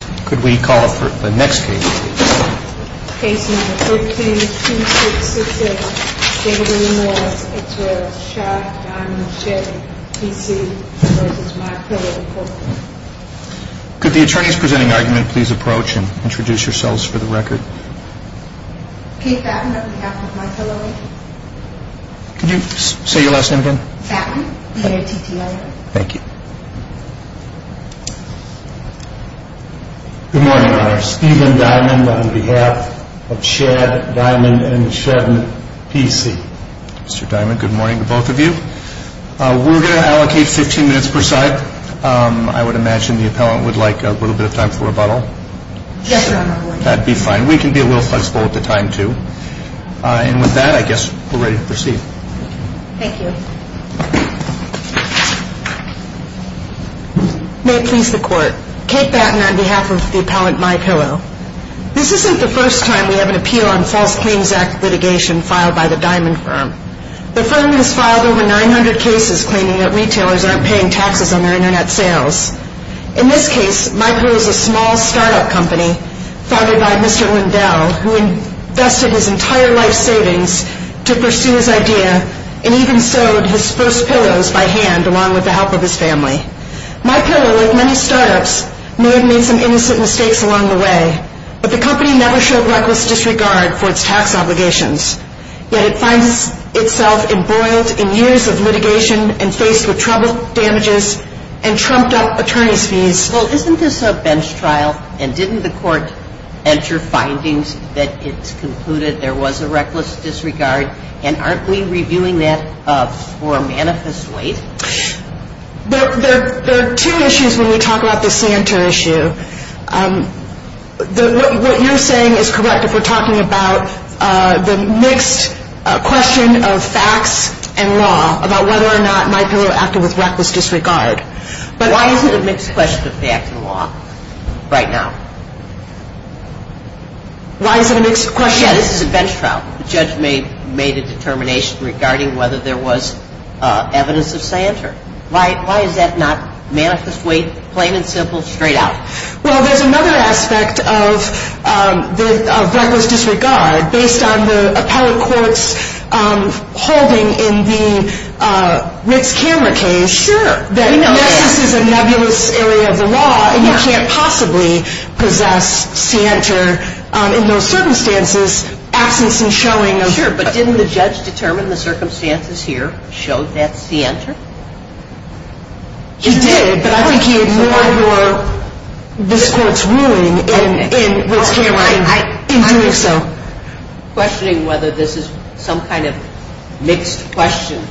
Could the attorneys presenting argument please approach and introduce yourselves for the record? Kate Fatton on behalf of MyPillowInc. Could you say your last name again? Fatton, N-A-T-T-L-A. Thank you. Good morning, Your Honor. Stephen Diamon on behalf of Schad, Diamon & Shedden P.C. Mr. Diamon, good morning to both of you. We're going to allocate 15 minutes per side. I would imagine the appellant would like a little bit of time for rebuttal. Yes, Your Honor. That would be fine. We can be a little flexible with the time too. And with that, I guess we're ready to proceed. Thank you. May it please the Court. Kate Fatton on behalf of the appellant, MyPillow. This isn't the first time we have an appeal on false claims act litigation filed by the Diamon firm. The firm has filed over 900 cases claiming that retailers aren't paying taxes on their internet sales. In this case, MyPillow is a small startup company founded by Mr. Lindell, who invested his entire life savings to pursue his idea and even sewed his first pillows by hand along with the help of his family. MyPillow, like many startups, may have made some innocent mistakes along the way, but the company never showed reckless disregard for its tax obligations. Yet it finds itself embroiled in years of litigation and faced with trouble, damages, and trumped-up attorney's fees. Well, isn't this a bench trial, and didn't the court enter findings that it's concluded there was a reckless disregard? And aren't we reviewing that for manifest waste? There are two issues when we talk about the Santa issue. What you're saying is correct if we're talking about the mixed question of facts and law about whether or not MyPillow acted with reckless disregard. But why is it a mixed question of facts and law right now? Why is it a mixed question? Yeah, this is a bench trial. The judge made a determination regarding whether there was evidence of Santa. Why is that not manifest waste, plain and simple, straight out? Well, there's another aspect of reckless disregard based on the appellate court's holding in the Rick's Camera case. Sure. Yes, this is a nebulous area of the law, and you can't possibly possess Santa in those circumstances, absence in showing. Sure, but didn't the judge determine the circumstances here, show that's Santa? He did, but I think he ignored this court's ruling in Rick's Camera in doing so. Questioning whether this is some kind of mixed question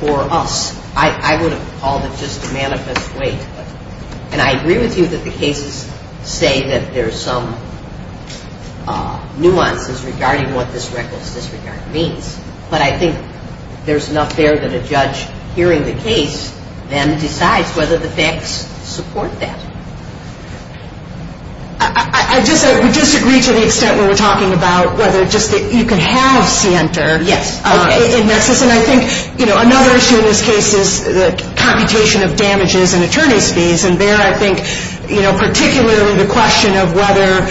for us. I would have called it just a manifest waste. And I agree with you that the cases say that there's some nuances regarding what this reckless disregard means. But I think there's enough there that a judge hearing the case then decides whether the facts support that. I disagree to the extent where we're talking about whether you can have Santa in Nexus. And I think another issue in this case is the computation of damages and attorney's fees. And there I think particularly the question of whether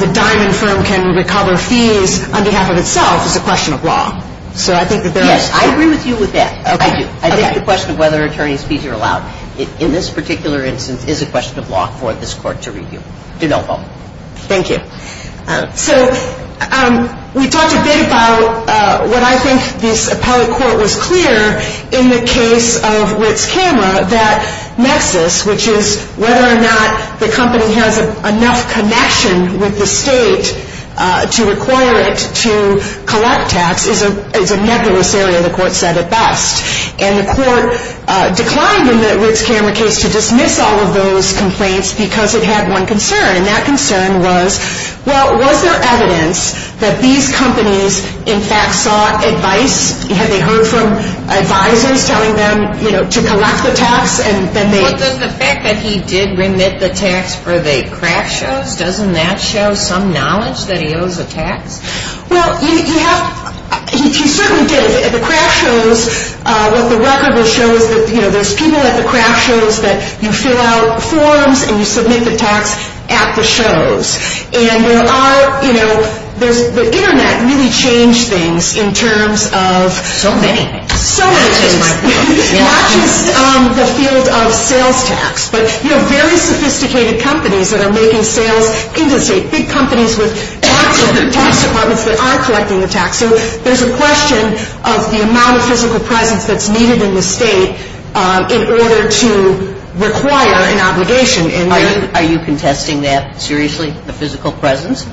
the diamond firm can recover fees on behalf of itself is a question of law. So I think that there is. Yes, I agree with you with that. I do. I think the question of whether attorney's fees are allowed in this particular instance is a question of law for this court to review. Do not vote. Thank you. So we talked a bit about what I think the appellate court was clear in the case of Rick's Camera that Nexus, which is whether or not the company has enough connection with the state to require it to collect tax, is a nebulous area. The court said it best. And the court declined in the Rick's Camera case to dismiss all of those complaints because it had one concern. And that concern was, well, was there evidence that these companies in fact sought advice? Had they heard from advisors telling them, you know, to collect the tax? Well, does the fact that he did remit the tax for the craft shows? Doesn't that show some knowledge that he owes a tax? Well, he certainly did. The craft shows, what the record will show is that, you know, there's people at the craft shows that you fill out forms and you submit the tax at the shows. And there are, you know, the Internet really changed things in terms of. So many. So many things. Not just the field of sales tax, but, you know, very sophisticated companies that are making sales into the state, big companies with tax departments that are collecting the tax. So there's a question of the amount of physical presence that's needed in the state in order to require an obligation. Are you contesting that seriously, the physical presence?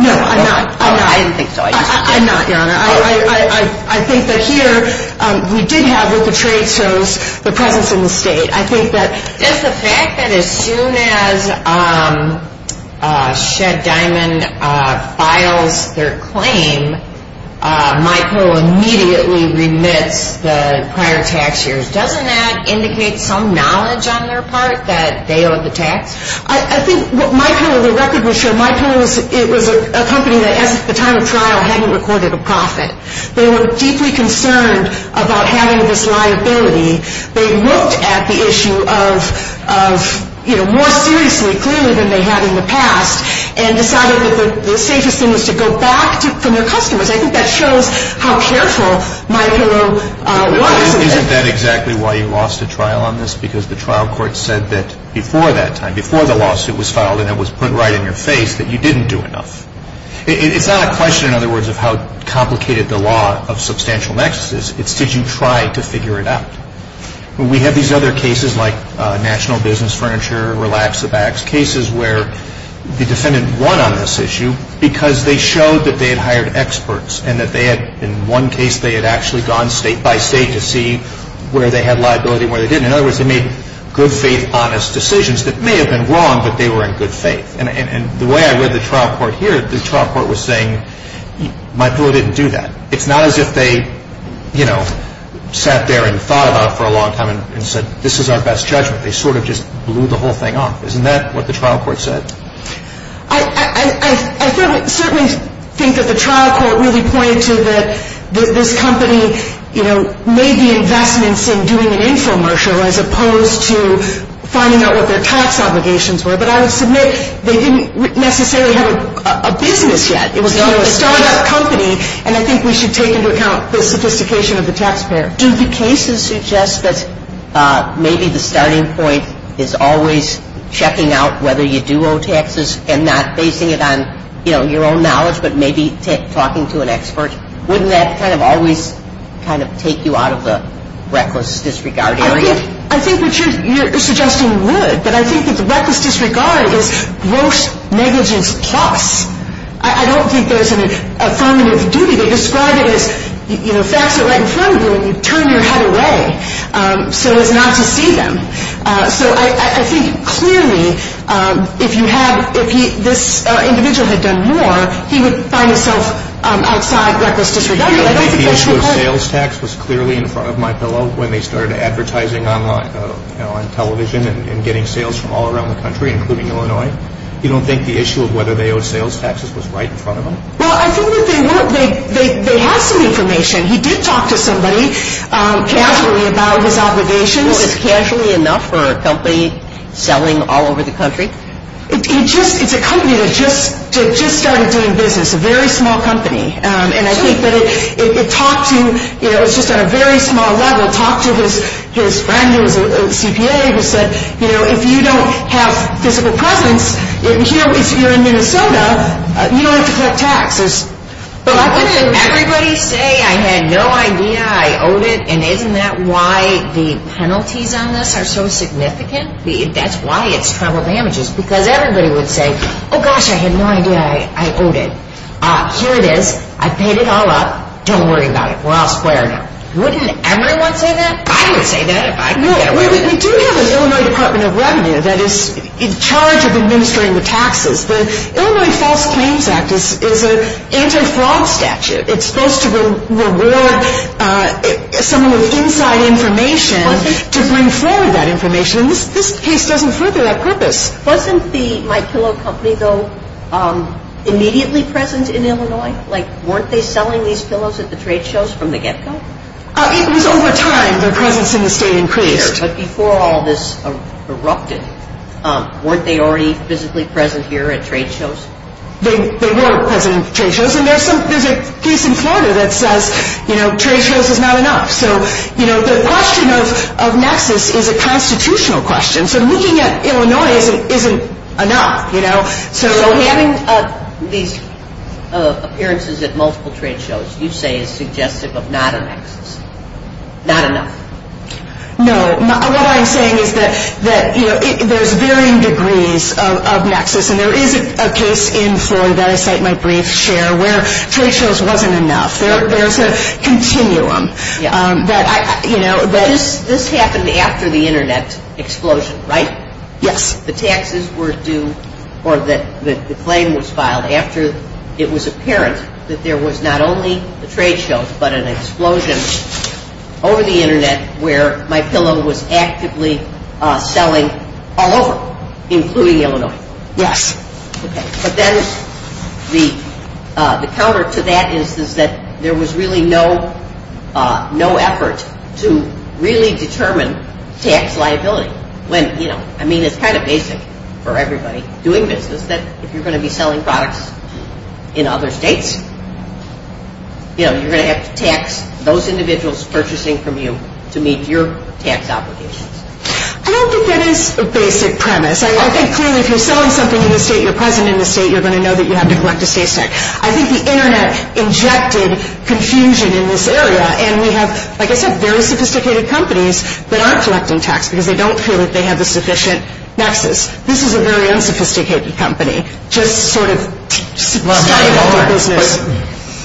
No, I'm not. I'm not. I didn't think so. I'm not, Your Honor. I think that here we did have what the trade shows, the presence in the state. I think that. Just the fact that as soon as Shed Diamond files their claim, MyPillow immediately remits the prior tax years. Doesn't that indicate some knowledge on their part that they owe the tax? I think MyPillow, the record will show, MyPillow, it was a company that at the time of trial hadn't recorded a profit. They were deeply concerned about having this liability. They looked at the issue of, you know, more seriously, clearly than they had in the past and decided that the safest thing was to go back to their customers. I think that shows how careful MyPillow was. Isn't that exactly why you lost a trial on this? Because the trial court said that before that time, before the lawsuit was filed and it was put right in your face that you didn't do enough. It's not a question, in other words, of how complicated the law of substantial nexus is. It's did you try to figure it out? We have these other cases like National Business Furniture, Relax the Bags, cases where the defendant won on this issue because they showed that they had hired experts and that they had, in one case, they had actually gone state by state to see where they had liability and where they didn't. In other words, they made good faith, honest decisions that may have been wrong, but they were in good faith. And the way I read the trial court here, the trial court was saying MyPillow didn't do that. It's not as if they, you know, sat there and thought about it for a long time and said, this is our best judgment. They sort of just blew the whole thing off. Isn't that what the trial court said? I certainly think that the trial court really pointed to that this company, you know, made the investments in doing an infomercial as opposed to finding out what their tax obligations were. But I would submit they didn't necessarily have a business yet. It was a startup company, and I think we should take into account the sophistication of the taxpayer. Do the cases suggest that maybe the starting point is always checking out whether you do owe taxes and not basing it on, you know, your own knowledge, but maybe talking to an expert? Wouldn't that kind of always kind of take you out of the reckless disregard area? I think what you're suggesting would, but I think that the reckless disregard is gross negligence plus. I don't think there's an affirmative duty. They describe it as, you know, fax it right in front of you and you turn your head away so as not to see them. So I think clearly if you have, if this individual had done more, he would find himself outside reckless disregard. I don't think that's the case. I don't think the issue of sales tax was clearly in front of my pillow when they started advertising online, you know, on television and getting sales from all around the country, including Illinois. You don't think the issue of whether they owed sales taxes was right in front of them? Well, I think that they had some information. He did talk to somebody casually about his obligations. Well, is casually enough for a company selling all over the country? It's a company that just started doing business, a very small company. And I think that it talked to, you know, it's just on a very small level, talked to his friend who was a CPA who said, you know, if you don't have physical presence here in Minnesota, you don't have to collect taxes. But wouldn't everybody say, I had no idea, I owed it, and isn't that why the penalties on this are so significant? That's why it's travel damages. Because everybody would say, oh, gosh, I had no idea I owed it. Here it is. I paid it all up. Don't worry about it. We're all square now. Wouldn't everyone say that? I would say that if I could get away with it. No, we do have an Illinois Department of Revenue that is in charge of administering the taxes. The Illinois False Claims Act is an anti-fraud statute. It's supposed to reward someone with inside information to bring forward that information. And this case doesn't further that purpose. Wasn't the My Pillow Company, though, immediately present in Illinois? Like, weren't they selling these pillows at the trade shows from the get-go? It was over time. Their presence in the state increased. But before all this erupted, weren't they already physically present here at trade shows? They were present at trade shows. And there's a case in Florida that says, you know, trade shows is not enough. So, you know, the question of nexus is a constitutional question. So looking at Illinois isn't enough, you know. So having these appearances at multiple trade shows you say is suggestive of not a nexus, not enough? No. What I'm saying is that, you know, there's varying degrees of nexus. And there is a case in Florida that I cite in my brief share where trade shows wasn't enough. There's a continuum that, you know. This happened after the Internet explosion, right? Yes. The taxes were due or the claim was filed after it was apparent that there was not only the trade shows but an explosion over the Internet where MyPillow was actively selling all over, including Illinois. Yes. Okay. But then the counter to that is that there was really no effort to really determine tax liability. When, you know, I mean it's kind of basic for everybody doing business that if you're going to be selling products in other states, you know, you're going to have to tax those individuals purchasing from you to meet your tax obligations. I don't think that is a basic premise. I think clearly if you're selling something to the state, you're present in the state, you're going to know that you have to collect a state tax. I think the Internet injected confusion in this area. And we have, like I said, very sophisticated companies that aren't collecting tax because they don't feel that they have a sufficient nexus. This is a very unsophisticated company just sort of starting up their business.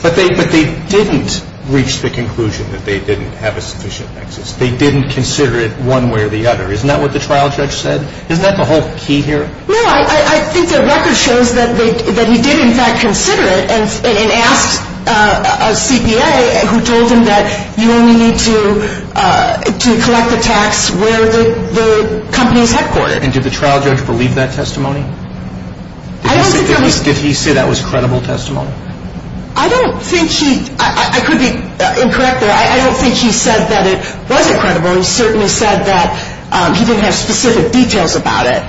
But they didn't reach the conclusion that they didn't have a sufficient nexus. They didn't consider it one way or the other. Isn't that what the trial judge said? Isn't that the whole key here? No, I think the record shows that he did, in fact, consider it and asked a CPA who told him that you only need to collect the tax where the company is headquartered. And did the trial judge believe that testimony? Did he say that was credible testimony? I don't think he – I could be incorrect there. I don't think he said that it wasn't credible. He certainly said that he didn't have specific details about it.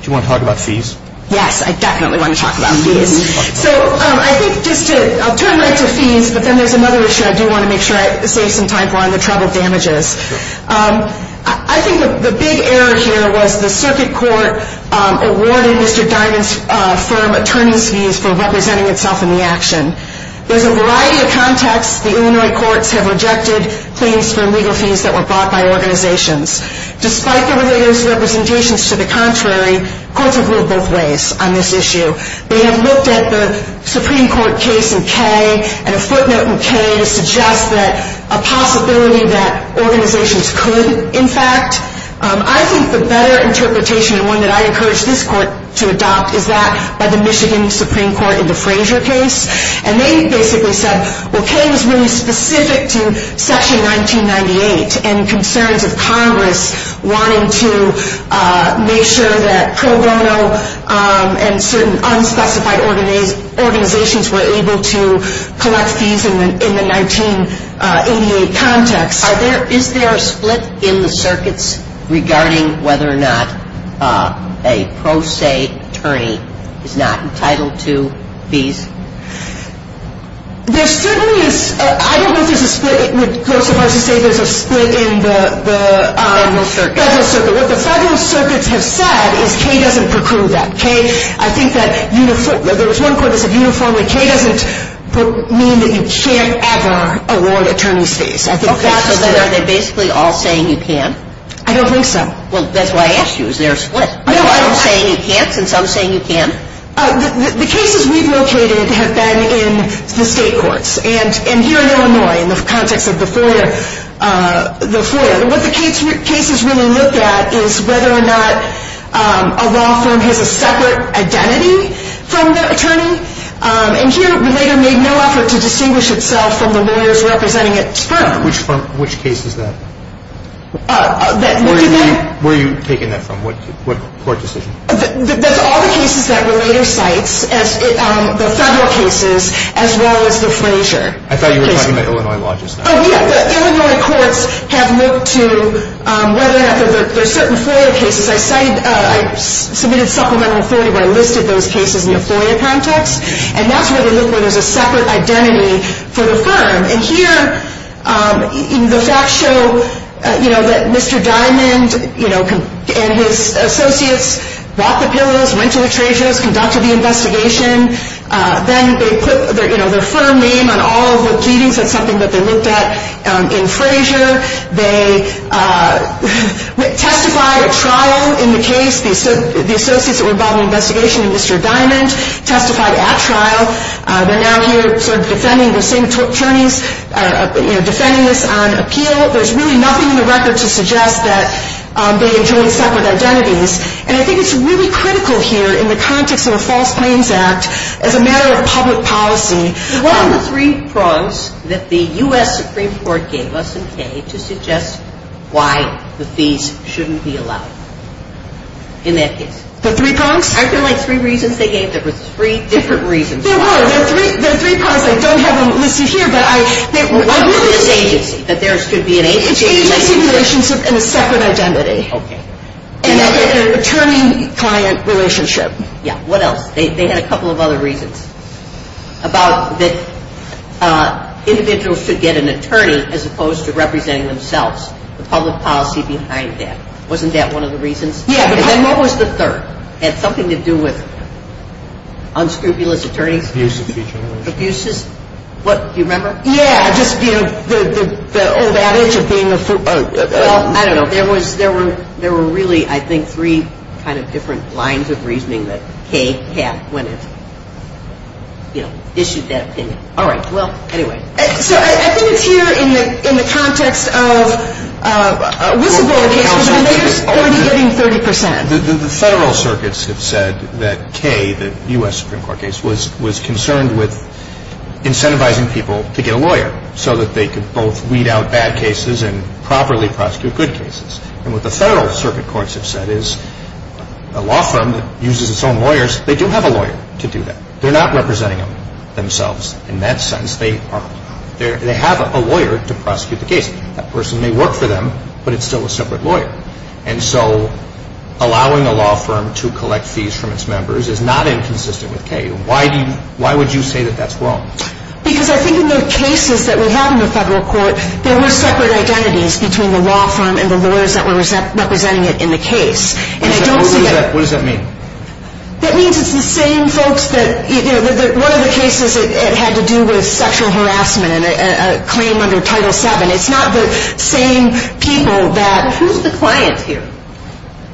Do you want to talk about fees? Yes, I definitely want to talk about fees. So I think just to – I'll turn right to fees, but then there's another issue I do want to make sure I save some time for on the troubled damages. I think the big error here was the circuit court awarded Mr. Diamond's firm attorney's fees for representing itself in the action. There's a variety of contexts the Illinois courts have rejected claims for legal fees that were brought by organizations. Despite the related representations to the contrary, courts have looked both ways on this issue. They have looked at the Supreme Court case in Kay and a footnote in Kay to suggest that a possibility that organizations could, in fact – I think the better interpretation and one that I encourage this court to adopt is that by the Michigan Supreme Court in the Frazier case. And they basically said, well, Kay was really specific to Section 1998 and concerns of Congress wanting to make sure that pro bono and certain unspecified organizations were able to collect fees in the 1988 context. Is there a split in the circuits regarding whether or not a pro se attorney is not entitled to fees? There certainly is – I don't know if there's a split. It would go so far as to say there's a split in the – Federal circuit. Federal circuit. What the federal circuits have said is Kay doesn't preclude that. Kay, I think that – there was one court that said uniformly Kay doesn't mean that you can't ever award attorney's fees. Okay, so are they basically all saying you can? I don't think so. Well, that's why I asked you. Is there a split? Are you saying you can't since I'm saying you can? The cases we've located have been in the state courts. And here in Illinois, in the context of the FOIA, what the cases really look at is whether or not a law firm has a separate identity from the attorney. And here, Relator made no effort to distinguish itself from the lawyers representing its firm. Which case is that? Where are you taking that from? What court decision? That's all the cases that Relator cites, the federal cases as well as the Frazier. I thought you were talking about Illinois law just now. Oh, yeah, the Illinois courts have looked to whether or not there are certain FOIA cases. I submitted supplemental authority where I listed those cases in the FOIA context. And that's where they look, where there's a separate identity for the firm. And here, the facts show that Mr. Diamond and his associates bought the pillows, went to the trade shows, conducted the investigation. Then they put their firm name on all of the pleadings. That's something that they looked at in Frazier. They testified at trial in the case. The associates that were involved in the investigation and Mr. Diamond testified at trial. They're now here sort of defending the same attorneys, you know, defending this on appeal. There's really nothing in the record to suggest that they enjoyed separate identities. And I think it's really critical here in the context of a False Claims Act as a matter of public policy. What are the three prongs that the U.S. Supreme Court gave us in Kay to suggest why the fees shouldn't be allowed in that case? The three prongs? Aren't there, like, three reasons they gave? There were three different reasons. There were. There are three prongs. I don't have them listed here, but I do think that there should be an agency relationship and a separate identity. Okay. And an attorney-client relationship. Yeah. What else? They had a couple of other reasons about that individuals should get an attorney as opposed to representing themselves, the public policy behind that. Wasn't that one of the reasons? Yeah. And then what was the third? It had something to do with unscrupulous attorneys? Abuses. Abuses. What? Do you remember? Yeah, just, you know, the old adage of being a fool. Well, I don't know. There were really, I think, three kind of different lines of reasoning that Kay had when it, you know, issued that opinion. All right. Well, anyway. So I think it's here in the context of whistleblower cases where they're already getting 30 percent. The federal circuits have said that Kay, the U.S. Supreme Court case, was concerned with incentivizing people to get a lawyer so that they could both weed out bad cases and properly prosecute good cases. And what the federal circuit courts have said is a law firm that uses its own lawyers, they do have a lawyer to do that. They're not representing themselves in that sense. They have a lawyer to prosecute the case. That person may work for them, but it's still a separate lawyer. And so allowing a law firm to collect fees from its members is not inconsistent with Kay. Why would you say that that's wrong? Because I think in the cases that we have in the federal court, there were separate identities between the law firm and the lawyers that were representing it in the case. And I don't see that. What does that mean? That means it's the same folks that, you know, one of the cases had to do with sexual harassment and a claim under Title VII. It's not the same people that – Well, who's the client here?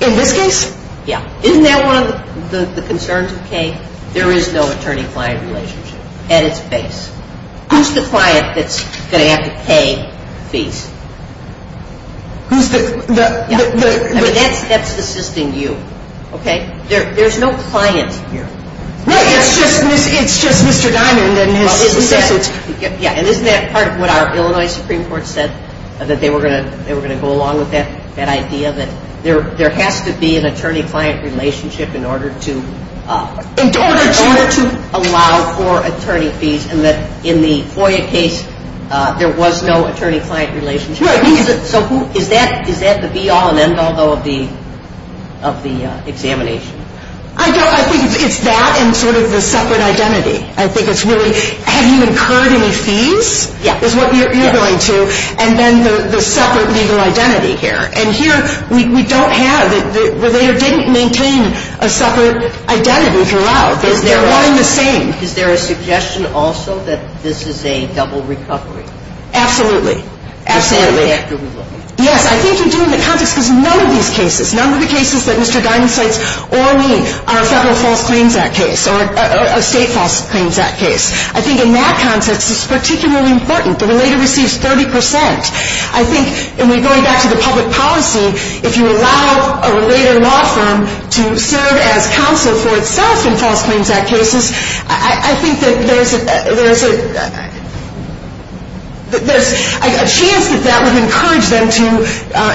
In this case? Yeah. Isn't that one of the concerns of Kay? There is no attorney-client relationship at its base. Who's the client that's going to have to pay fees? Who's the – I mean, that's assisting you, okay? There's no client here. No, it's just Mr. Diamond and his assistants. Yeah, and isn't that part of what our Illinois Supreme Court said that they were going to go along with that idea that there has to be an attorney-client relationship in order to allow for attorney fees and that in the FOIA case there was no attorney-client relationship? Right. So is that the be-all and end-all, though, of the examination? I think it's that and sort of the separate identity. I think it's really have you incurred any fees is what you're going to, and then the separate legal identity here. And here we don't have – the relator didn't maintain a separate identity throughout. They're all the same. Is there a suggestion also that this is a double recovery? Absolutely. Absolutely. Yes, I think you do in the context because none of these cases, none of the cases that Mr. Diamond cites or me are a Federal False Claims Act case or a State False Claims Act case. I think in that context it's particularly important. The relator receives 30%. I think, and we're going back to the public policy, if you allow a relator law firm to serve as counsel for itself in False Claims Act cases, I think that there's a chance that that would encourage them to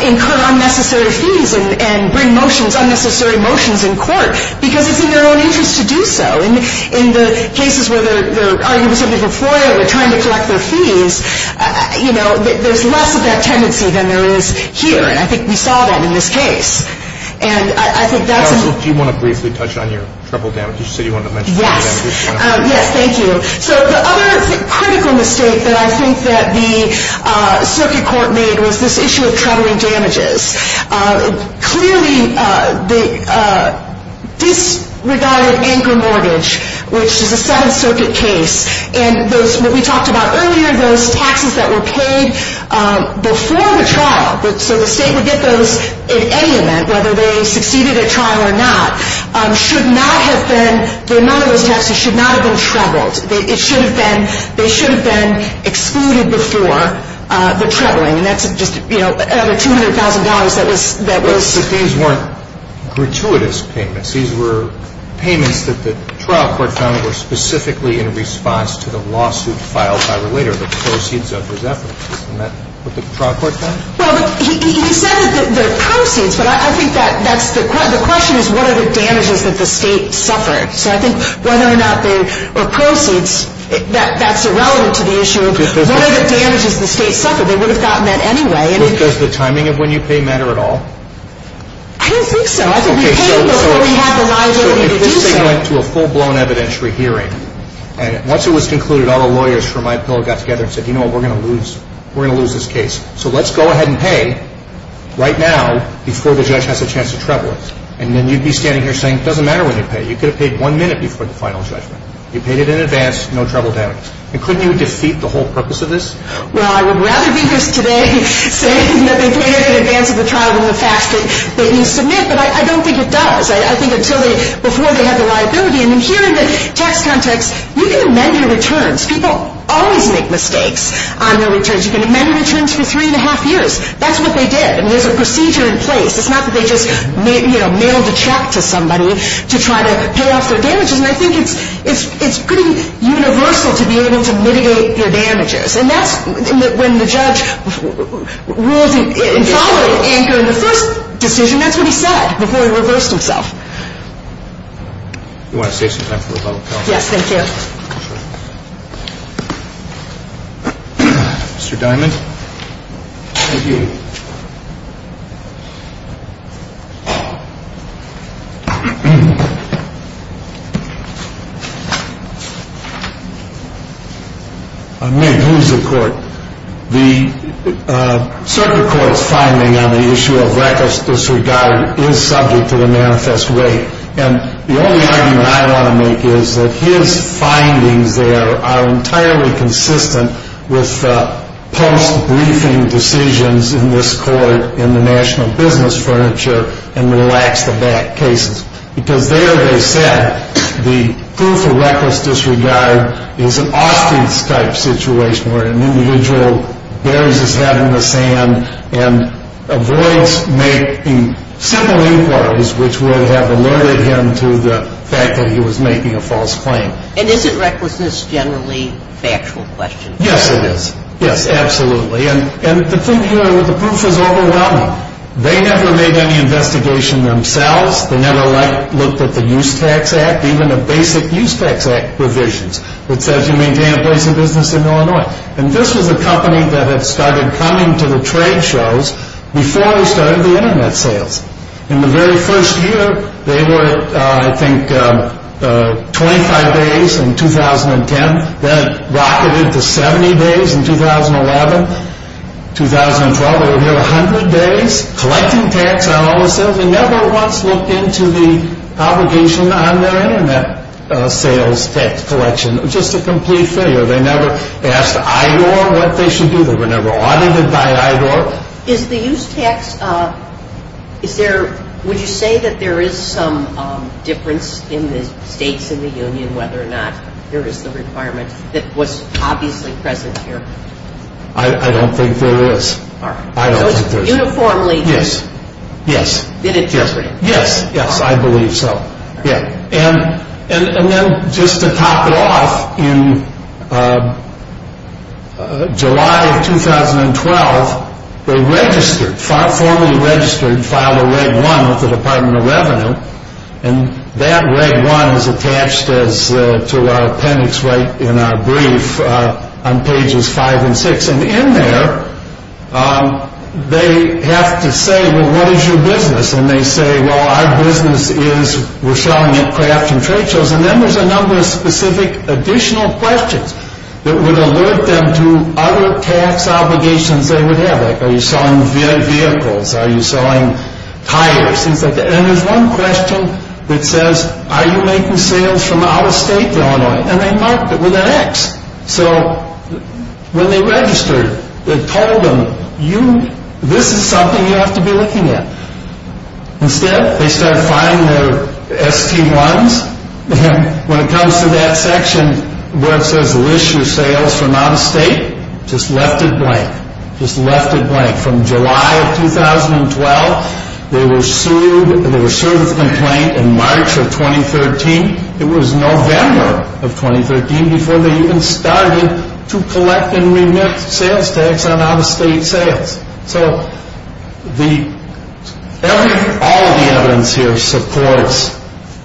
incur unnecessary fees and bring motions, unnecessary motions in court because it's in their own interest to do so. In the cases where they're arguing with somebody for FOIA or trying to collect their fees, you know, there's less of that tendency than there is here, and I think we saw that in this case. And I think that's – Do you want to briefly touch on your treble damages? You said you wanted to mention treble damages. Yes. Yes, thank you. So the other critical mistake that I think that the circuit court made was this issue of treble damages. Clearly, the disregarded anchor mortgage, which is a Seventh Circuit case, and what we talked about earlier, those taxes that were paid before the trial, so the State would get those at any event, whether they succeeded at trial or not, should not have been – none of those taxes should not have been trebled. It should have been – they should have been excluded before the trebling, and that's just, you know, another $200,000 that was – But these weren't gratuitous payments. These were payments that the trial court found were specifically in response to the lawsuit filed by Relator, the proceeds of his efforts. Isn't that what the trial court found? Well, he said that they're proceeds, but I think that's – the question is, what are the damages that the State suffered? So I think whether or not they were proceeds, that's irrelevant to the issue. What are the damages the State suffered? They would have gotten that anyway. So does the timing of when you pay matter at all? I don't think so. I think we paid them before we had the liability to do so. So let's say you went to a full-blown evidentiary hearing, and once it was concluded, all the lawyers for my bill got together and said, you know what, we're going to lose – we're going to lose this case, so let's go ahead and pay right now before the judge has a chance to treble it. And then you'd be standing here saying, it doesn't matter when you pay. You could have paid one minute before the final judgment. You paid it in advance, no treble damage. And couldn't you defeat the whole purpose of this? Well, I would rather be here today saying that they paid it in advance of the trial and the facts that they need to submit, but I don't think it does. I think until they – before they had the liability. And here in the tax context, you can amend your returns. People always make mistakes on their returns. You can amend your returns for three and a half years. That's what they did, and there's a procedure in place. It's not that they just, you know, mailed a check to somebody to try to pay off their damages. And I think it's pretty universal to be able to mitigate your damages. And that's – when the judge rules in following anchor in the first decision, that's what he said before he reversed himself. Do you want to save some time for the public comment? Yes, thank you. Mr. Diamond. Thank you. I may lose the court. The circuit court's finding on the issue of reckless disregard is subject to the manifest way. And the only argument I want to make is that his findings there are entirely consistent with post-briefing decisions in this court in the national business furniture and relax the back cases. Because there they said the proof of reckless disregard is an Austen-type situation where an individual bares his head in the sand and avoids making simple inquiries which would have alerted him to the fact that he was making a false claim. And isn't recklessness generally a factual question? Yes, it is. Yes, absolutely. And the thing here with the proof is overwhelming. They never made any investigation themselves. They never looked at the Use Tax Act, even the basic Use Tax Act provisions that says you maintain a place of business in Illinois. And this was a company that had started coming to the trade shows before we started the Internet sales. In the very first year, they were, I think, 25 days in 2010. Then it rocketed to 70 days in 2011, 2012. They were here 100 days collecting tax on all the sales. They never once looked into the obligation on their Internet sales tax collection. It was just a complete failure. They never asked IDOR what they should do. They were never audited by IDOR. So is the Use Tax, is there, would you say that there is some difference in the states in the union whether or not there is the requirement that was obviously present here? I don't think there is. So it's uniformly been interpreted. Yes, yes, I believe so. And then just to top it off, in July of 2012, they registered, formally registered and filed a Reg 1 with the Department of Revenue. And that Reg 1 is attached to our appendix right in our brief on pages 5 and 6. And in there, they have to say, well, what is your business? And they say, well, our business is, we're selling aircraft and trade shows. And then there's a number of specific additional questions that would alert them to other tax obligations they would have. Like, are you selling vehicles? Are you selling tires? Things like that. And there's one question that says, are you making sales from out of state to Illinois? And they marked it with an X. So when they registered, it told them, this is something you have to be looking at. Instead, they start filing their ST1s. And when it comes to that section where it says, list your sales from out of state, just left it blank. Just left it blank. From July of 2012, they were sued and they were sued with a complaint in March of 2013. It was November of 2013 before they even started to collect and remit sales tax on out-of-state sales. So all of the evidence here supports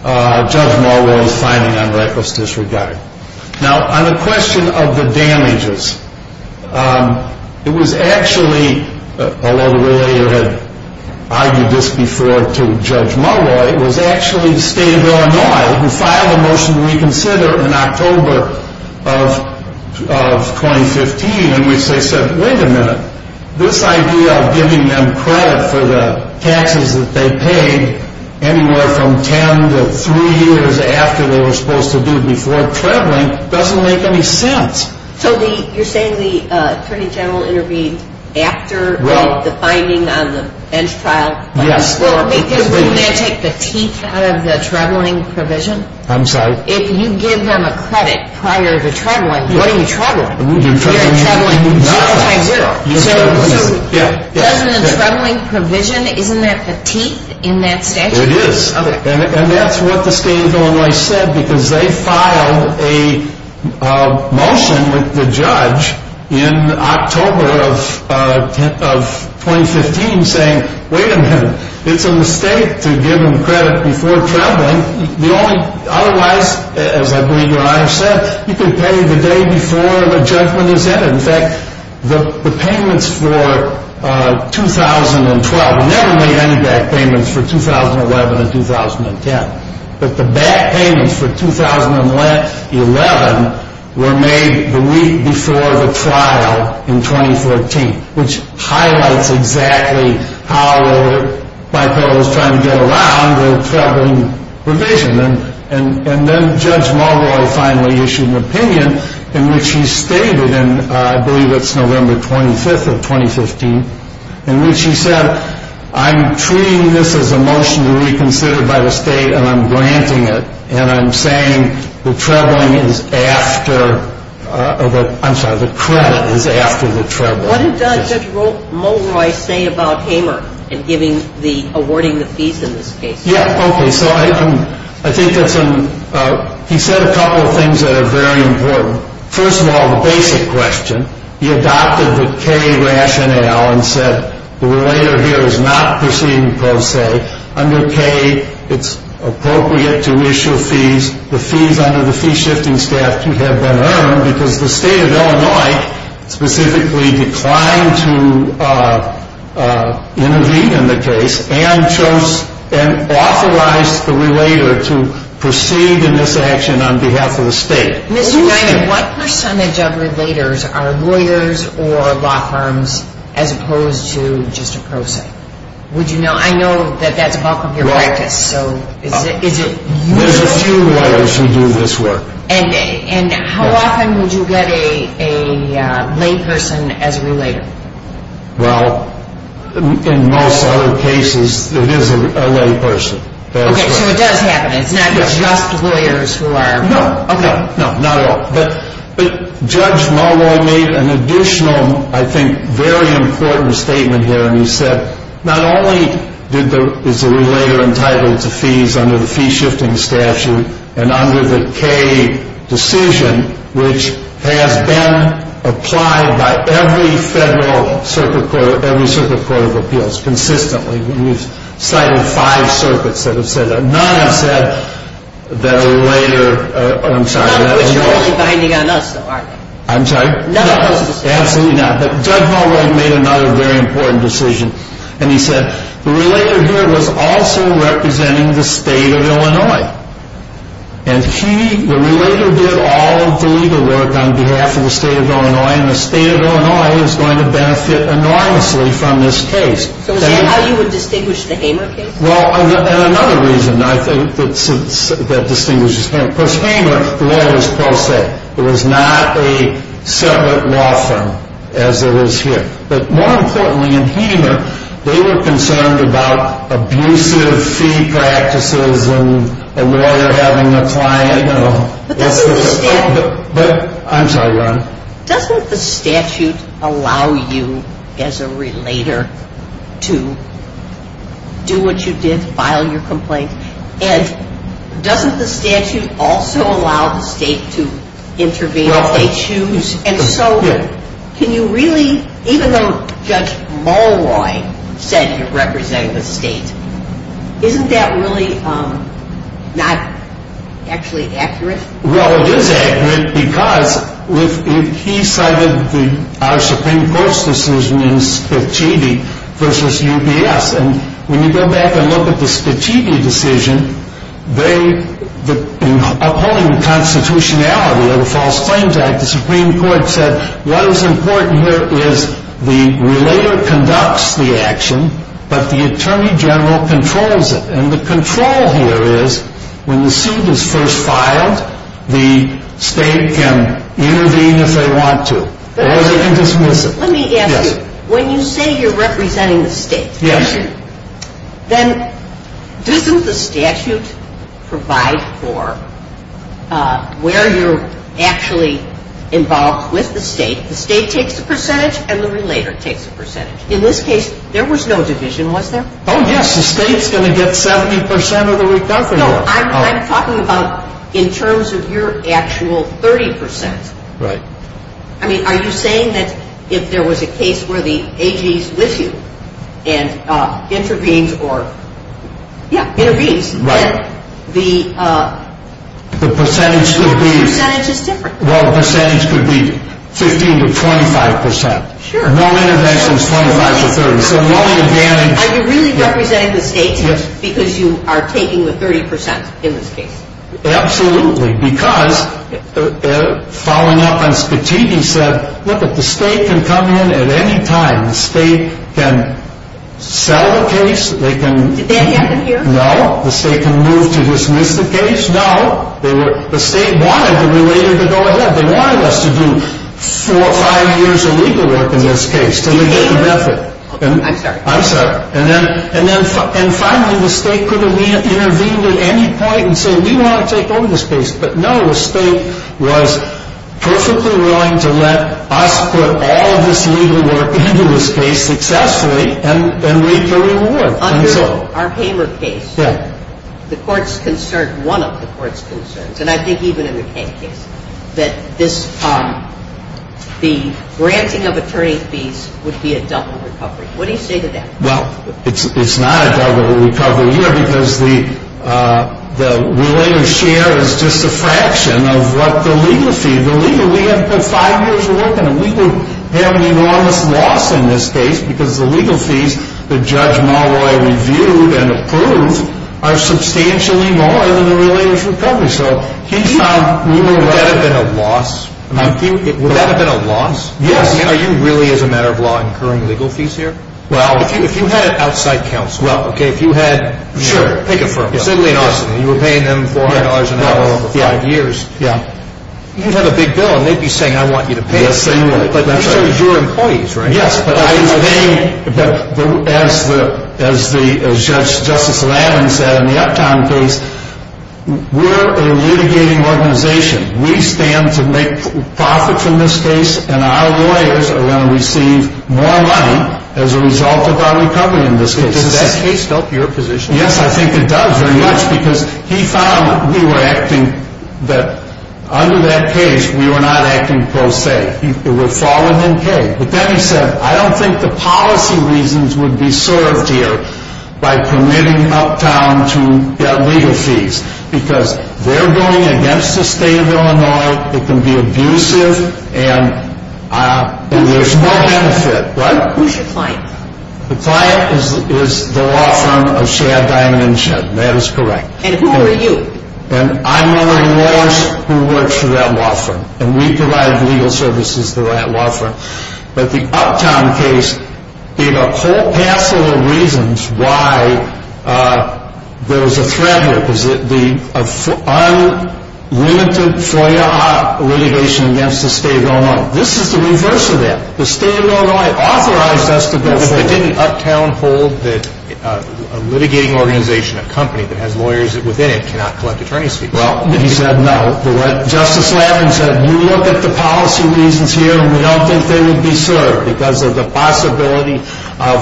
Judge Mulroy's finding on reckless disregard. Now, on the question of the damages, it was actually, although the lawyer had argued this before to Judge Mulroy, it was actually the state of Illinois who filed a motion to reconsider in October of 2015 in which they said, wait a minute, this idea of giving them credit for the taxes that they paid anywhere from ten to three years after they were supposed to do before traveling doesn't make any sense. So you're saying the Attorney General intervened after the finding on the bench trial? Yes. Well, because wouldn't that take the teeth out of the traveling provision? I'm sorry? If you give them a credit prior to traveling, what are you traveling? You're traveling zero times zero. So doesn't the traveling provision, isn't that the teeth in that statute? It is. And that's what the state of Illinois said because they filed a motion with the judge in October of 2015 saying, wait a minute, it's a mistake to give them credit before traveling. Otherwise, as I believe your Honor said, you can pay the day before the judgment is entered. In fact, the payments for 2012 never made any back payments for 2011 and 2010. But the back payments for 2011 were made the week before the trial in 2014, which highlights exactly how the bipolar is trying to get around the traveling provision. And then Judge Mulroy finally issued an opinion in which he stated, and I believe it's November 25th of 2015, in which he said, I'm treating this as a motion to reconsider by the state and I'm granting it. And I'm saying the traveling is after, I'm sorry, the credit is after the traveling. So what did Judge Mulroy say about Hamer in giving the, awarding the fees in this case? Yeah, okay. So I think that's, he said a couple of things that are very important. First of all, the basic question. He adopted the K rationale and said the relator here is not proceeding pro se. Under K, it's appropriate to issue fees. The fees under the fee shifting staff to have been earned because the state of Illinois specifically declined to intervene in the case and chose and authorized the relator to proceed in this action on behalf of the state. Mr. Knight, what percentage of relators are lawyers or law firms as opposed to just a pro se? Would you know? I know that that's part of your practice. Right. Is it usual? There's a few lawyers who do this work. And how often would you get a lay person as a relator? Well, in most other cases, it is a lay person. Okay, so it does happen. It's not just lawyers who are. No, okay. No, not at all. But Judge Mulroy made an additional, I think, very important statement here. He said not only is the relator entitled to fees under the fee shifting statute and under the K decision, which has been applied by every federal circuit court, every circuit court of appeals consistently. We've cited five circuits that have said that. None have said that a relator, oh, I'm sorry. None of which are only binding on us, though, are they? I'm sorry? None of those decisions. Absolutely not. But Judge Mulroy made another very important decision. And he said the relator here was also representing the state of Illinois. And he, the relator, did all of the legal work on behalf of the state of Illinois, and the state of Illinois is going to benefit enormously from this case. So is that how you would distinguish the Hamer case? Well, and another reason, I think, that distinguishes Hamer. Because Hamer, the law was pro se. It was not a separate law firm as it is here. But more importantly, in Hamer, they were concerned about abusive fee practices and a lawyer having a client, you know. But doesn't the statute. I'm sorry, Ron. Doesn't the statute allow you as a relator to do what you did, file your complaint? And doesn't the statute also allow the state to intervene if they choose? And so can you really, even though Judge Mulroy said you're representing the state, isn't that really not actually accurate? Well, it is accurate because he cited our Supreme Court's decision in Spicitti v. UPS. And when you go back and look at the Spicitti decision, in upholding the constitutionality of the False Claims Act, the Supreme Court said what is important here is the relator conducts the action, but the attorney general controls it. And the control here is when the suit is first filed, the state can intervene if they want to. Or they can dismiss it. Let me ask you. Yes. Let's say you're representing the state. Yes. Then doesn't the statute provide for where you're actually involved with the state? The state takes a percentage and the relator takes a percentage. In this case, there was no division, was there? Oh, yes. The state's going to get 70% of the recovery. No, I'm talking about in terms of your actual 30%. Right. I mean, are you saying that if there was a case where the AG is with you and intervenes or, yeah, intervenes, then the percentage would be 15% to 25%. Sure. No interventions 25% to 30%. Are you really representing the state because you are taking the 30% in this case? Absolutely. Because following up on Spatini said, look, the state can come in at any time. The state can sell the case. Did they have them here? No. The state can move to dismiss the case. No. The state wanted the relator to go ahead. They wanted us to do four or five years of legal work in this case to look at the method. I'm sorry. I'm sorry. And finally, the state could have intervened at any point and said, we want to take over this case. But, no, the state was perfectly willing to let us put all of this legal work into this case successfully and reap the reward. Under our Hamer case, the court's concern, one of the court's concerns, and I think even in the Kaye case, that the granting of attorney fees would be a double recovery. What do you say to that? Well, it's not a double recovery, you know, because the relator's share is just a fraction of what the legal fee. The legal, we had put five years of work in it. We would have an enormous loss in this case because the legal fees that Judge Malloy reviewed and approved are substantially more than the relator's recovery. So he found we were right. Would that have been a loss? Would that have been a loss? Yes. Are you really, as a matter of law, incurring legal fees here? Well, if you had an outside counsel. Well, okay, if you had... Sure. Pick a firm. Sidley and Austin. You were paying them $400 an hour for five years. Yeah. You'd have a big bill, and they'd be saying, I want you to pay. Yes, they would. But these are your employees, right? Yes, but I was paying... But as the, as the, as Judge, Justice Lavin said in the Uptown case, we're a litigating organization. We stand to make profit from this case, and our lawyers are going to receive more money as a result of our recovery in this case. But does that case help your position? Yes, I think it does very much because he found we were acting, that under that case, we were not acting pro se. We were falling in pay. But then he said, I don't think the policy reasons would be served here by permitting Uptown to get legal fees because they're going against the state of Illinois. It can be abusive, and there's no benefit, right? Who's your client? The client is the law firm of Shad Diamond and Shed, and that is correct. And who are you? And I'm one of the lawyers who works for that law firm, and we provide legal services to that law firm. But the Uptown case gave a whole hassle of reasons why there was a threat here, because the unlimited FOIA litigation against the state of Illinois. This is the reverse of that. The state of Illinois authorized us to go forward. But didn't Uptown hold that a litigating organization, a company that has lawyers within it, cannot collect attorney's fees? Well, he said no. Justice Lavin said, you look at the policy reasons here, and we don't think they would be served because of the possibility of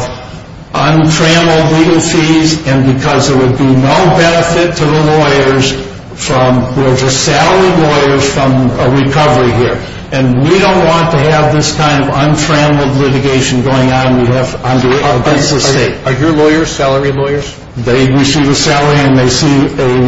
untrammeled legal fees and because there would be no benefit to the lawyers from the salary lawyers from a recovery here. And we don't want to have this kind of untrammeled litigation going on against the state. Are your lawyers salary lawyers? They receive a salary, and they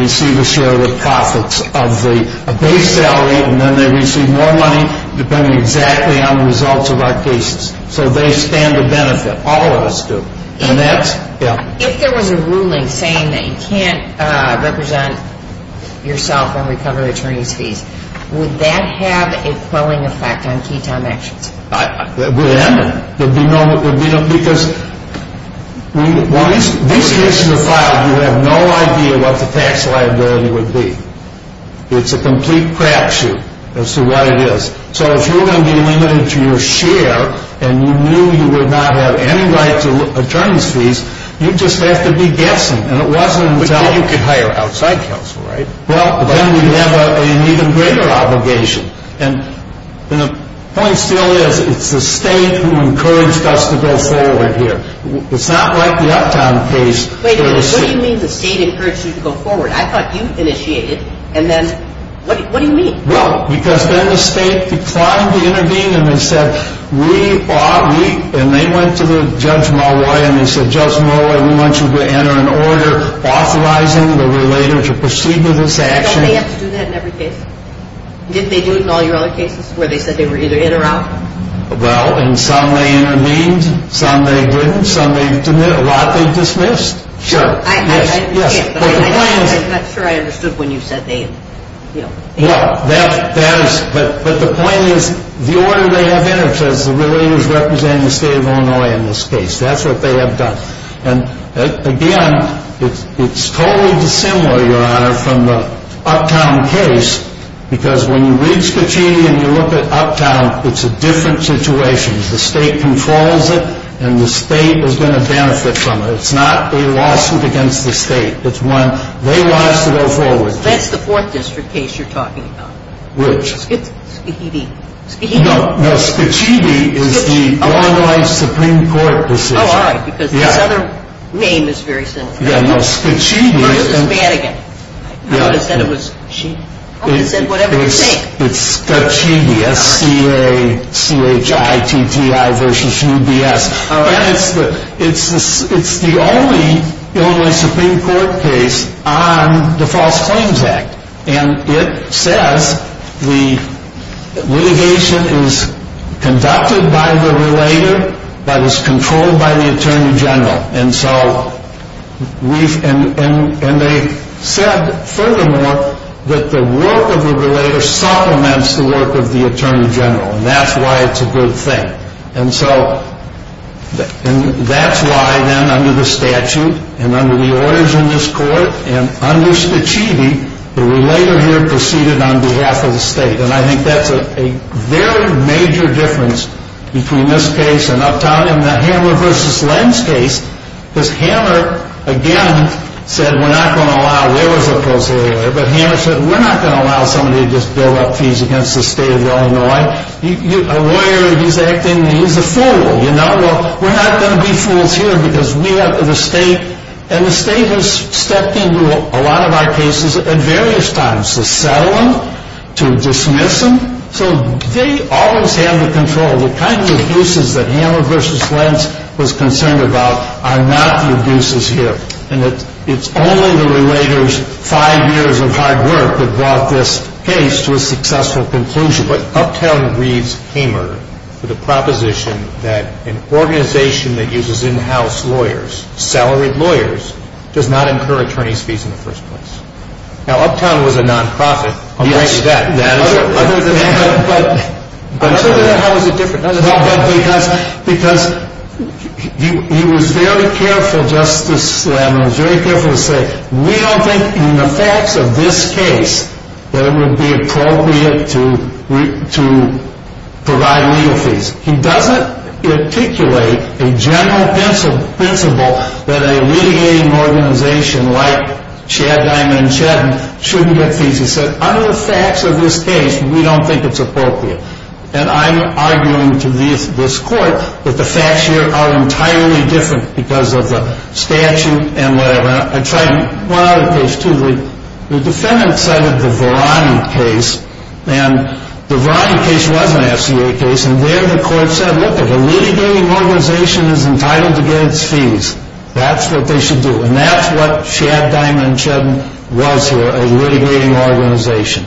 receive a share of the profits of the base salary, and then they receive more money depending exactly on the results of our cases. So they stand to benefit. All of us do. If there was a ruling saying that you can't represent yourself on recovery attorney's fees, would that have a quelling effect on key time actions? It would have. Because these cases are filed, you have no idea what the tax liability would be. It's a complete crapshoot as to what it is. So if you're going to be limited to your share, and you knew you would not have any right to attorney's fees, you'd just have to be guessing. But then you could hire outside counsel, right? Well, but then you'd have an even greater obligation. And the point still is it's the state who encouraged us to go forward here. It's not like the Uptown case. Wait a minute. What do you mean the state encouraged you to go forward? I thought you initiated, and then what do you mean? Well, because then the state declined to intervene, and they said we ought, and they went to Judge Malloy, and they said, Judge Malloy, we want you to enter an order authorizing the relator to proceed with this action. Didn't they have to do that in every case? Didn't they do it in all your other cases where they said they were either in or out? Well, in some they intervened, in some they didn't, in some they didn't. A lot they dismissed. Sure. I understand, but I'm not sure I understood when you said they, you know. Well, that is, but the point is the order they have entered says the relator is representing the state of Illinois in this case. That's what they have done. And, again, it's totally dissimilar, Your Honor, from the Uptown case, because when you read Scachetti and you look at Uptown, it's a different situation. The state controls it, and the state is going to benefit from it. It's not a lawsuit against the state. It's one they want us to go forward to. That's the Fourth District case you're talking about. Which? Scachetti. No, no, Scachetti is the Illinois Supreme Court decision. Oh, all right, because this other name is very similar. Yeah, no, Scachetti is. Versus Madigan. I would have said it was she. I would have said whatever you think. It's Scachetti, S-C-A-C-H-I-T-T-I versus U-B-S. All right. And it says the litigation is conducted by the relator but is controlled by the Attorney General. And they said, furthermore, that the work of the relator supplements the work of the Attorney General, and that's why it's a good thing. And that's why, then, under the statute and under the orders in this court and under Scachetti, the relator here proceeded on behalf of the state. And I think that's a very major difference between this case and Uptown and the Hammer v. Lenz case. Because Hammer, again, said we're not going to allow lawyers up close to the lawyer, but Hammer said we're not going to allow somebody to just bill up fees against the state of Illinois. A lawyer, he's acting, he's a fool, you know. Well, we're not going to be fools here because we have the state, and the state has stepped into a lot of our cases at various times to settle them, to dismiss them. So they always have the control. The kind of abuses that Hammer v. Lenz was concerned about are not the abuses here. And it's only the relator's five years of hard work that brought this case to a successful conclusion. But Uptown grieves Hammer for the proposition that an organization that uses in-house lawyers, salaried lawyers, does not incur attorney's fees in the first place. Now, Uptown was a nonprofit. Yes. Other than that, how is it different? Because he was very careful, Justice Slammer, very careful to say we don't think in the facts of this case that it would be appropriate to provide legal fees. He doesn't articulate a general principle that a litigating organization like Chad Diamond and Shedden shouldn't get fees. He said, under the facts of this case, we don't think it's appropriate. And I'm arguing to this court that the facts here are entirely different because of the statute and whatever. I tried one other case, too. The defendant cited the Verani case. And the Verani case was an FCA case. And there the court said, look, if a litigating organization is entitled to get its fees, that's what they should do. And that's what Chad Diamond and Shedden was here, a litigating organization.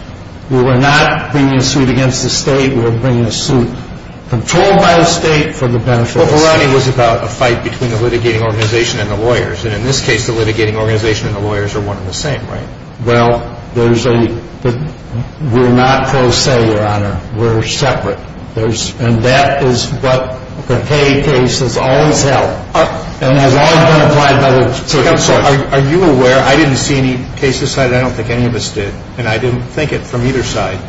We were not bringing a suit against the state. We were bringing a suit controlled by the state for the benefit of the state. But Verani was about a fight between the litigating organization and the lawyers. And in this case, the litigating organization and the lawyers are one and the same, right? Well, there's a – we're not pro se, Your Honor. We're separate. And that is what the Kaye case has always held and has always been applied by the state. I'm sorry. Are you aware – I didn't see any cases cited. I don't think any of us did. And I didn't think it from either side.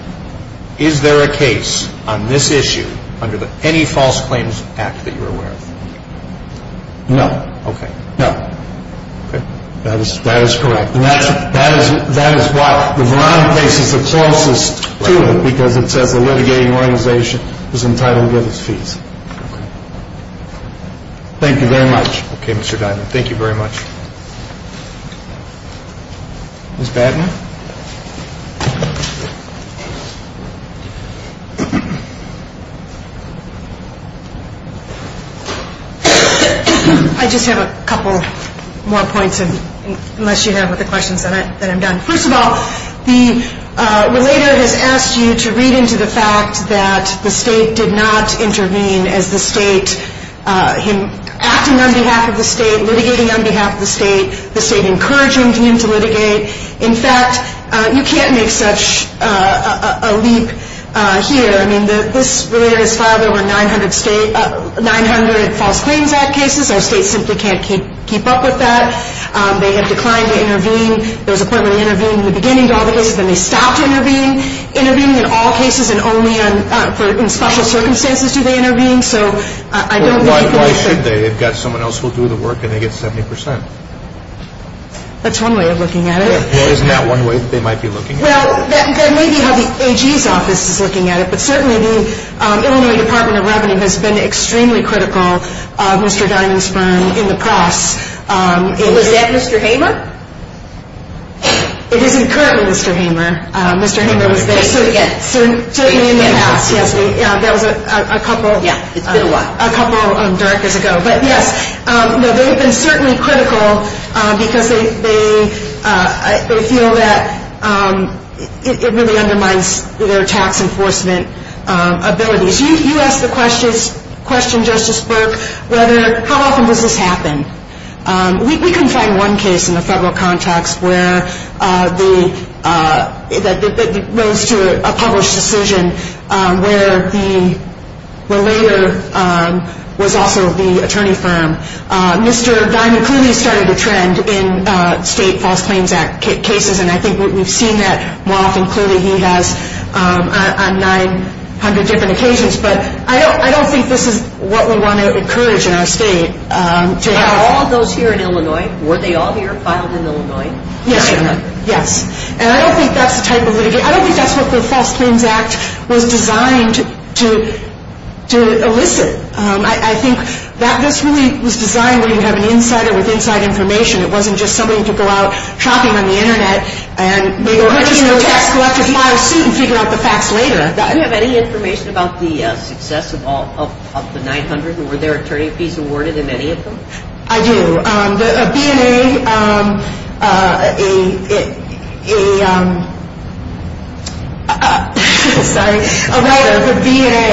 Is there a case on this issue under any False Claims Act that you're aware of? No. Okay. No. Okay. That is correct. And that is why the Verani case is the closest to it because it says the litigating organization is entitled to get its fees. Okay. Thank you very much. Okay, Mr. Diamond. Thank you very much. Ms. Batten? I just have a couple more points, unless you have other questions, then I'm done. First of all, the relator has asked you to read into the fact that the state did not intervene as the state – him acting on behalf of the state, litigating on behalf of the state, the state encouraging him to litigate. In fact, you can't make such a leap here. I mean, this relator has filed over 900 False Claims Act cases. Our state simply can't keep up with that. They have declined to intervene. There was a point where they intervened in the beginning of all the cases, then they stopped intervening. Intervening in all cases and only in special circumstances do they intervene. So I don't – Why should they? They've got someone else who will do the work and they get 70 percent. That's one way of looking at it. Well, isn't that one way that they might be looking at it? Well, that may be how the AG's office is looking at it, but certainly the Illinois Department of Revenue has been extremely critical of Mr. Diamond's firm in the past. Was that Mr. Hamer? It isn't currently Mr. Hamer. Mr. Hamer was there – So you mean in the past? Yes, that was a couple – Yeah, it's been a while. A couple of dark years ago. But, yes, they have been certainly critical because they feel that it really undermines their tax enforcement abilities. You asked the question, Justice Burke, whether – how often does this happen? We couldn't find one case in the federal contracts where the – was also the attorney firm. Mr. Diamond clearly started a trend in state False Claims Act cases, and I think we've seen that more often. Clearly, he has on 900 different occasions. But I don't think this is what we want to encourage in our state to have – Are all of those here in Illinois? Were they all here filed in Illinois? Yes. And I don't think that's the type of litigation – I think that this really was designed where you have an insider with inside information. It wasn't just somebody who could go out shopping on the Internet and they go, here's your tax-collected file suit, and figure out the facts later. Do you have any information about the success of all – of the 900? And were there attorney fees awarded in any of them? I do. A B&A – a – sorry – a writer for B&A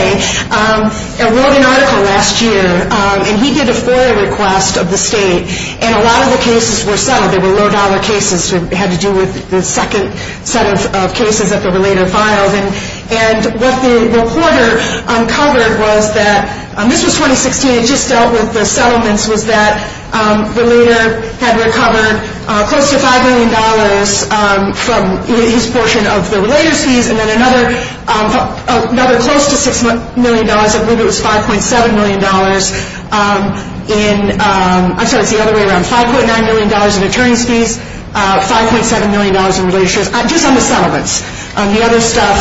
wrote an article last year, and he did a FOIA request of the state, and a lot of the cases were settled. They were low-dollar cases. It had to do with the second set of cases that were later filed. And what the reporter uncovered was that – this was 2016. The way it just dealt with the settlements was that the leader had recovered close to $5 million from his portion of the relator's fees, and then another – another close to $6 million. I believe it was $5.7 million in – I'm sorry, it's the other way around – $5.9 million in attorney's fees, $5.7 million in relator's fees, just on the settlements. The other stuff,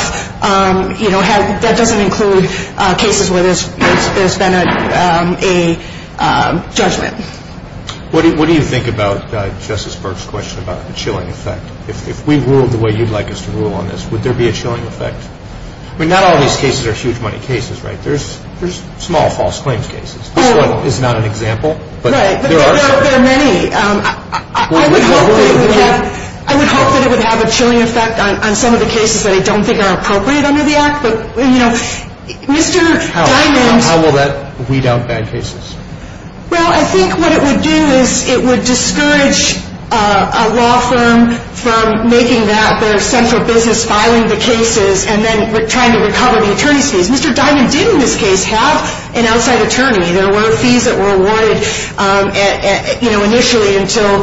you know, had – that doesn't include cases where there's been a judgment. What do you think about Justice Burke's question about the chilling effect? If we ruled the way you'd like us to rule on this, would there be a chilling effect? I mean, not all of these cases are huge money cases, right? There's – there's small false claims cases. I would hope that it would have – I would hope that it would have a chilling effect on some of the cases that I don't think are appropriate under the Act. But, you know, Mr. Diamond – How will that weed out bad cases? Well, I think what it would do is it would discourage a law firm from making that their central business, filing the cases, and then trying to recover the attorney's fees. Mr. Diamond didn't, in this case, have an outside attorney. There were fees that were awarded, you know, initially until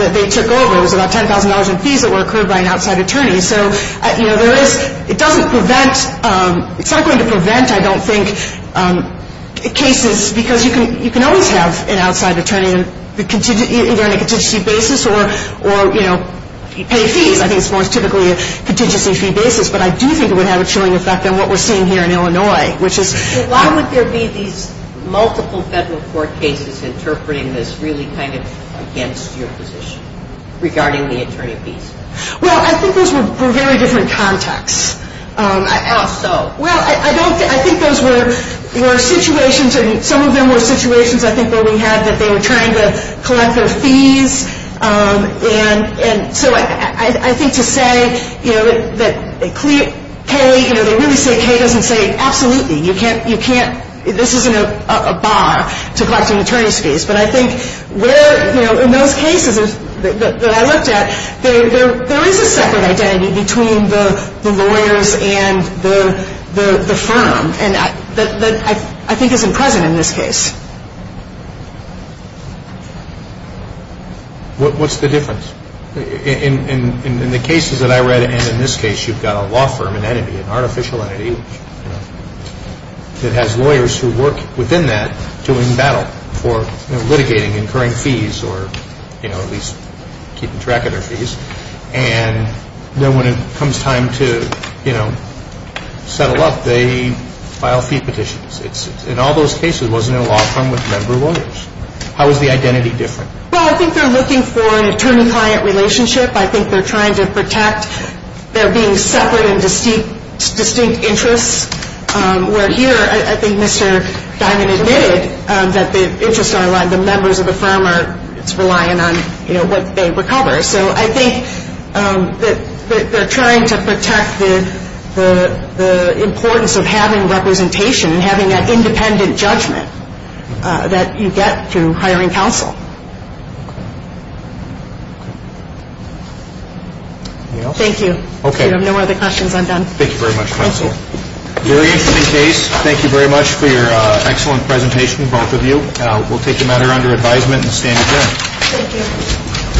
they took over. It was about $10,000 in fees that were accrued by an outside attorney. So, you know, there is – it doesn't prevent – it's not going to prevent, I don't think, cases because you can always have an outside attorney either on a contingency basis or, you know, pay fees. I think it's more typically a contingency fee basis. But I do think it would have a chilling effect on what we're seeing here in Illinois, which is – Why would there be these multiple federal court cases interpreting this really kind of against your position regarding the attorney fees? Well, I think those were very different contexts. How so? Well, I don't – I think those were situations – some of them were situations, I think, And so I think to say, you know, that K, you know, they really say K doesn't say absolutely. You can't – you can't – this isn't a bar to collect an attorney's fees. But I think where, you know, in those cases that I looked at, there is a separate identity between the lawyers and the firm that I think isn't present in this case. What's the difference? In the cases that I read, and in this case, you've got a law firm, an entity, an artificial entity, that has lawyers who work within that doing battle for litigating, incurring fees, or, you know, at least keeping track of their fees. And then when it comes time to, you know, settle up, they file fee petitions. In all those cases, it wasn't a law firm with member lawyers. How is the identity different? Well, I think they're looking for an attorney-client relationship. I think they're trying to protect their being separate and distinct interests. Where here, I think Mr. Diamond admitted that the interests are aligned. The members of the firm are – it's relying on, you know, what they recover. So I think that they're trying to protect the importance of having representation and having that independent judgment that you get through hiring counsel. Anything else? Thank you. Okay. If you have no other questions, I'm done. Thank you very much, counsel. Thank you. Very interesting case. Thank you very much for your excellent presentation, both of you. We'll take the matter under advisement and stand adjourned. Thank you.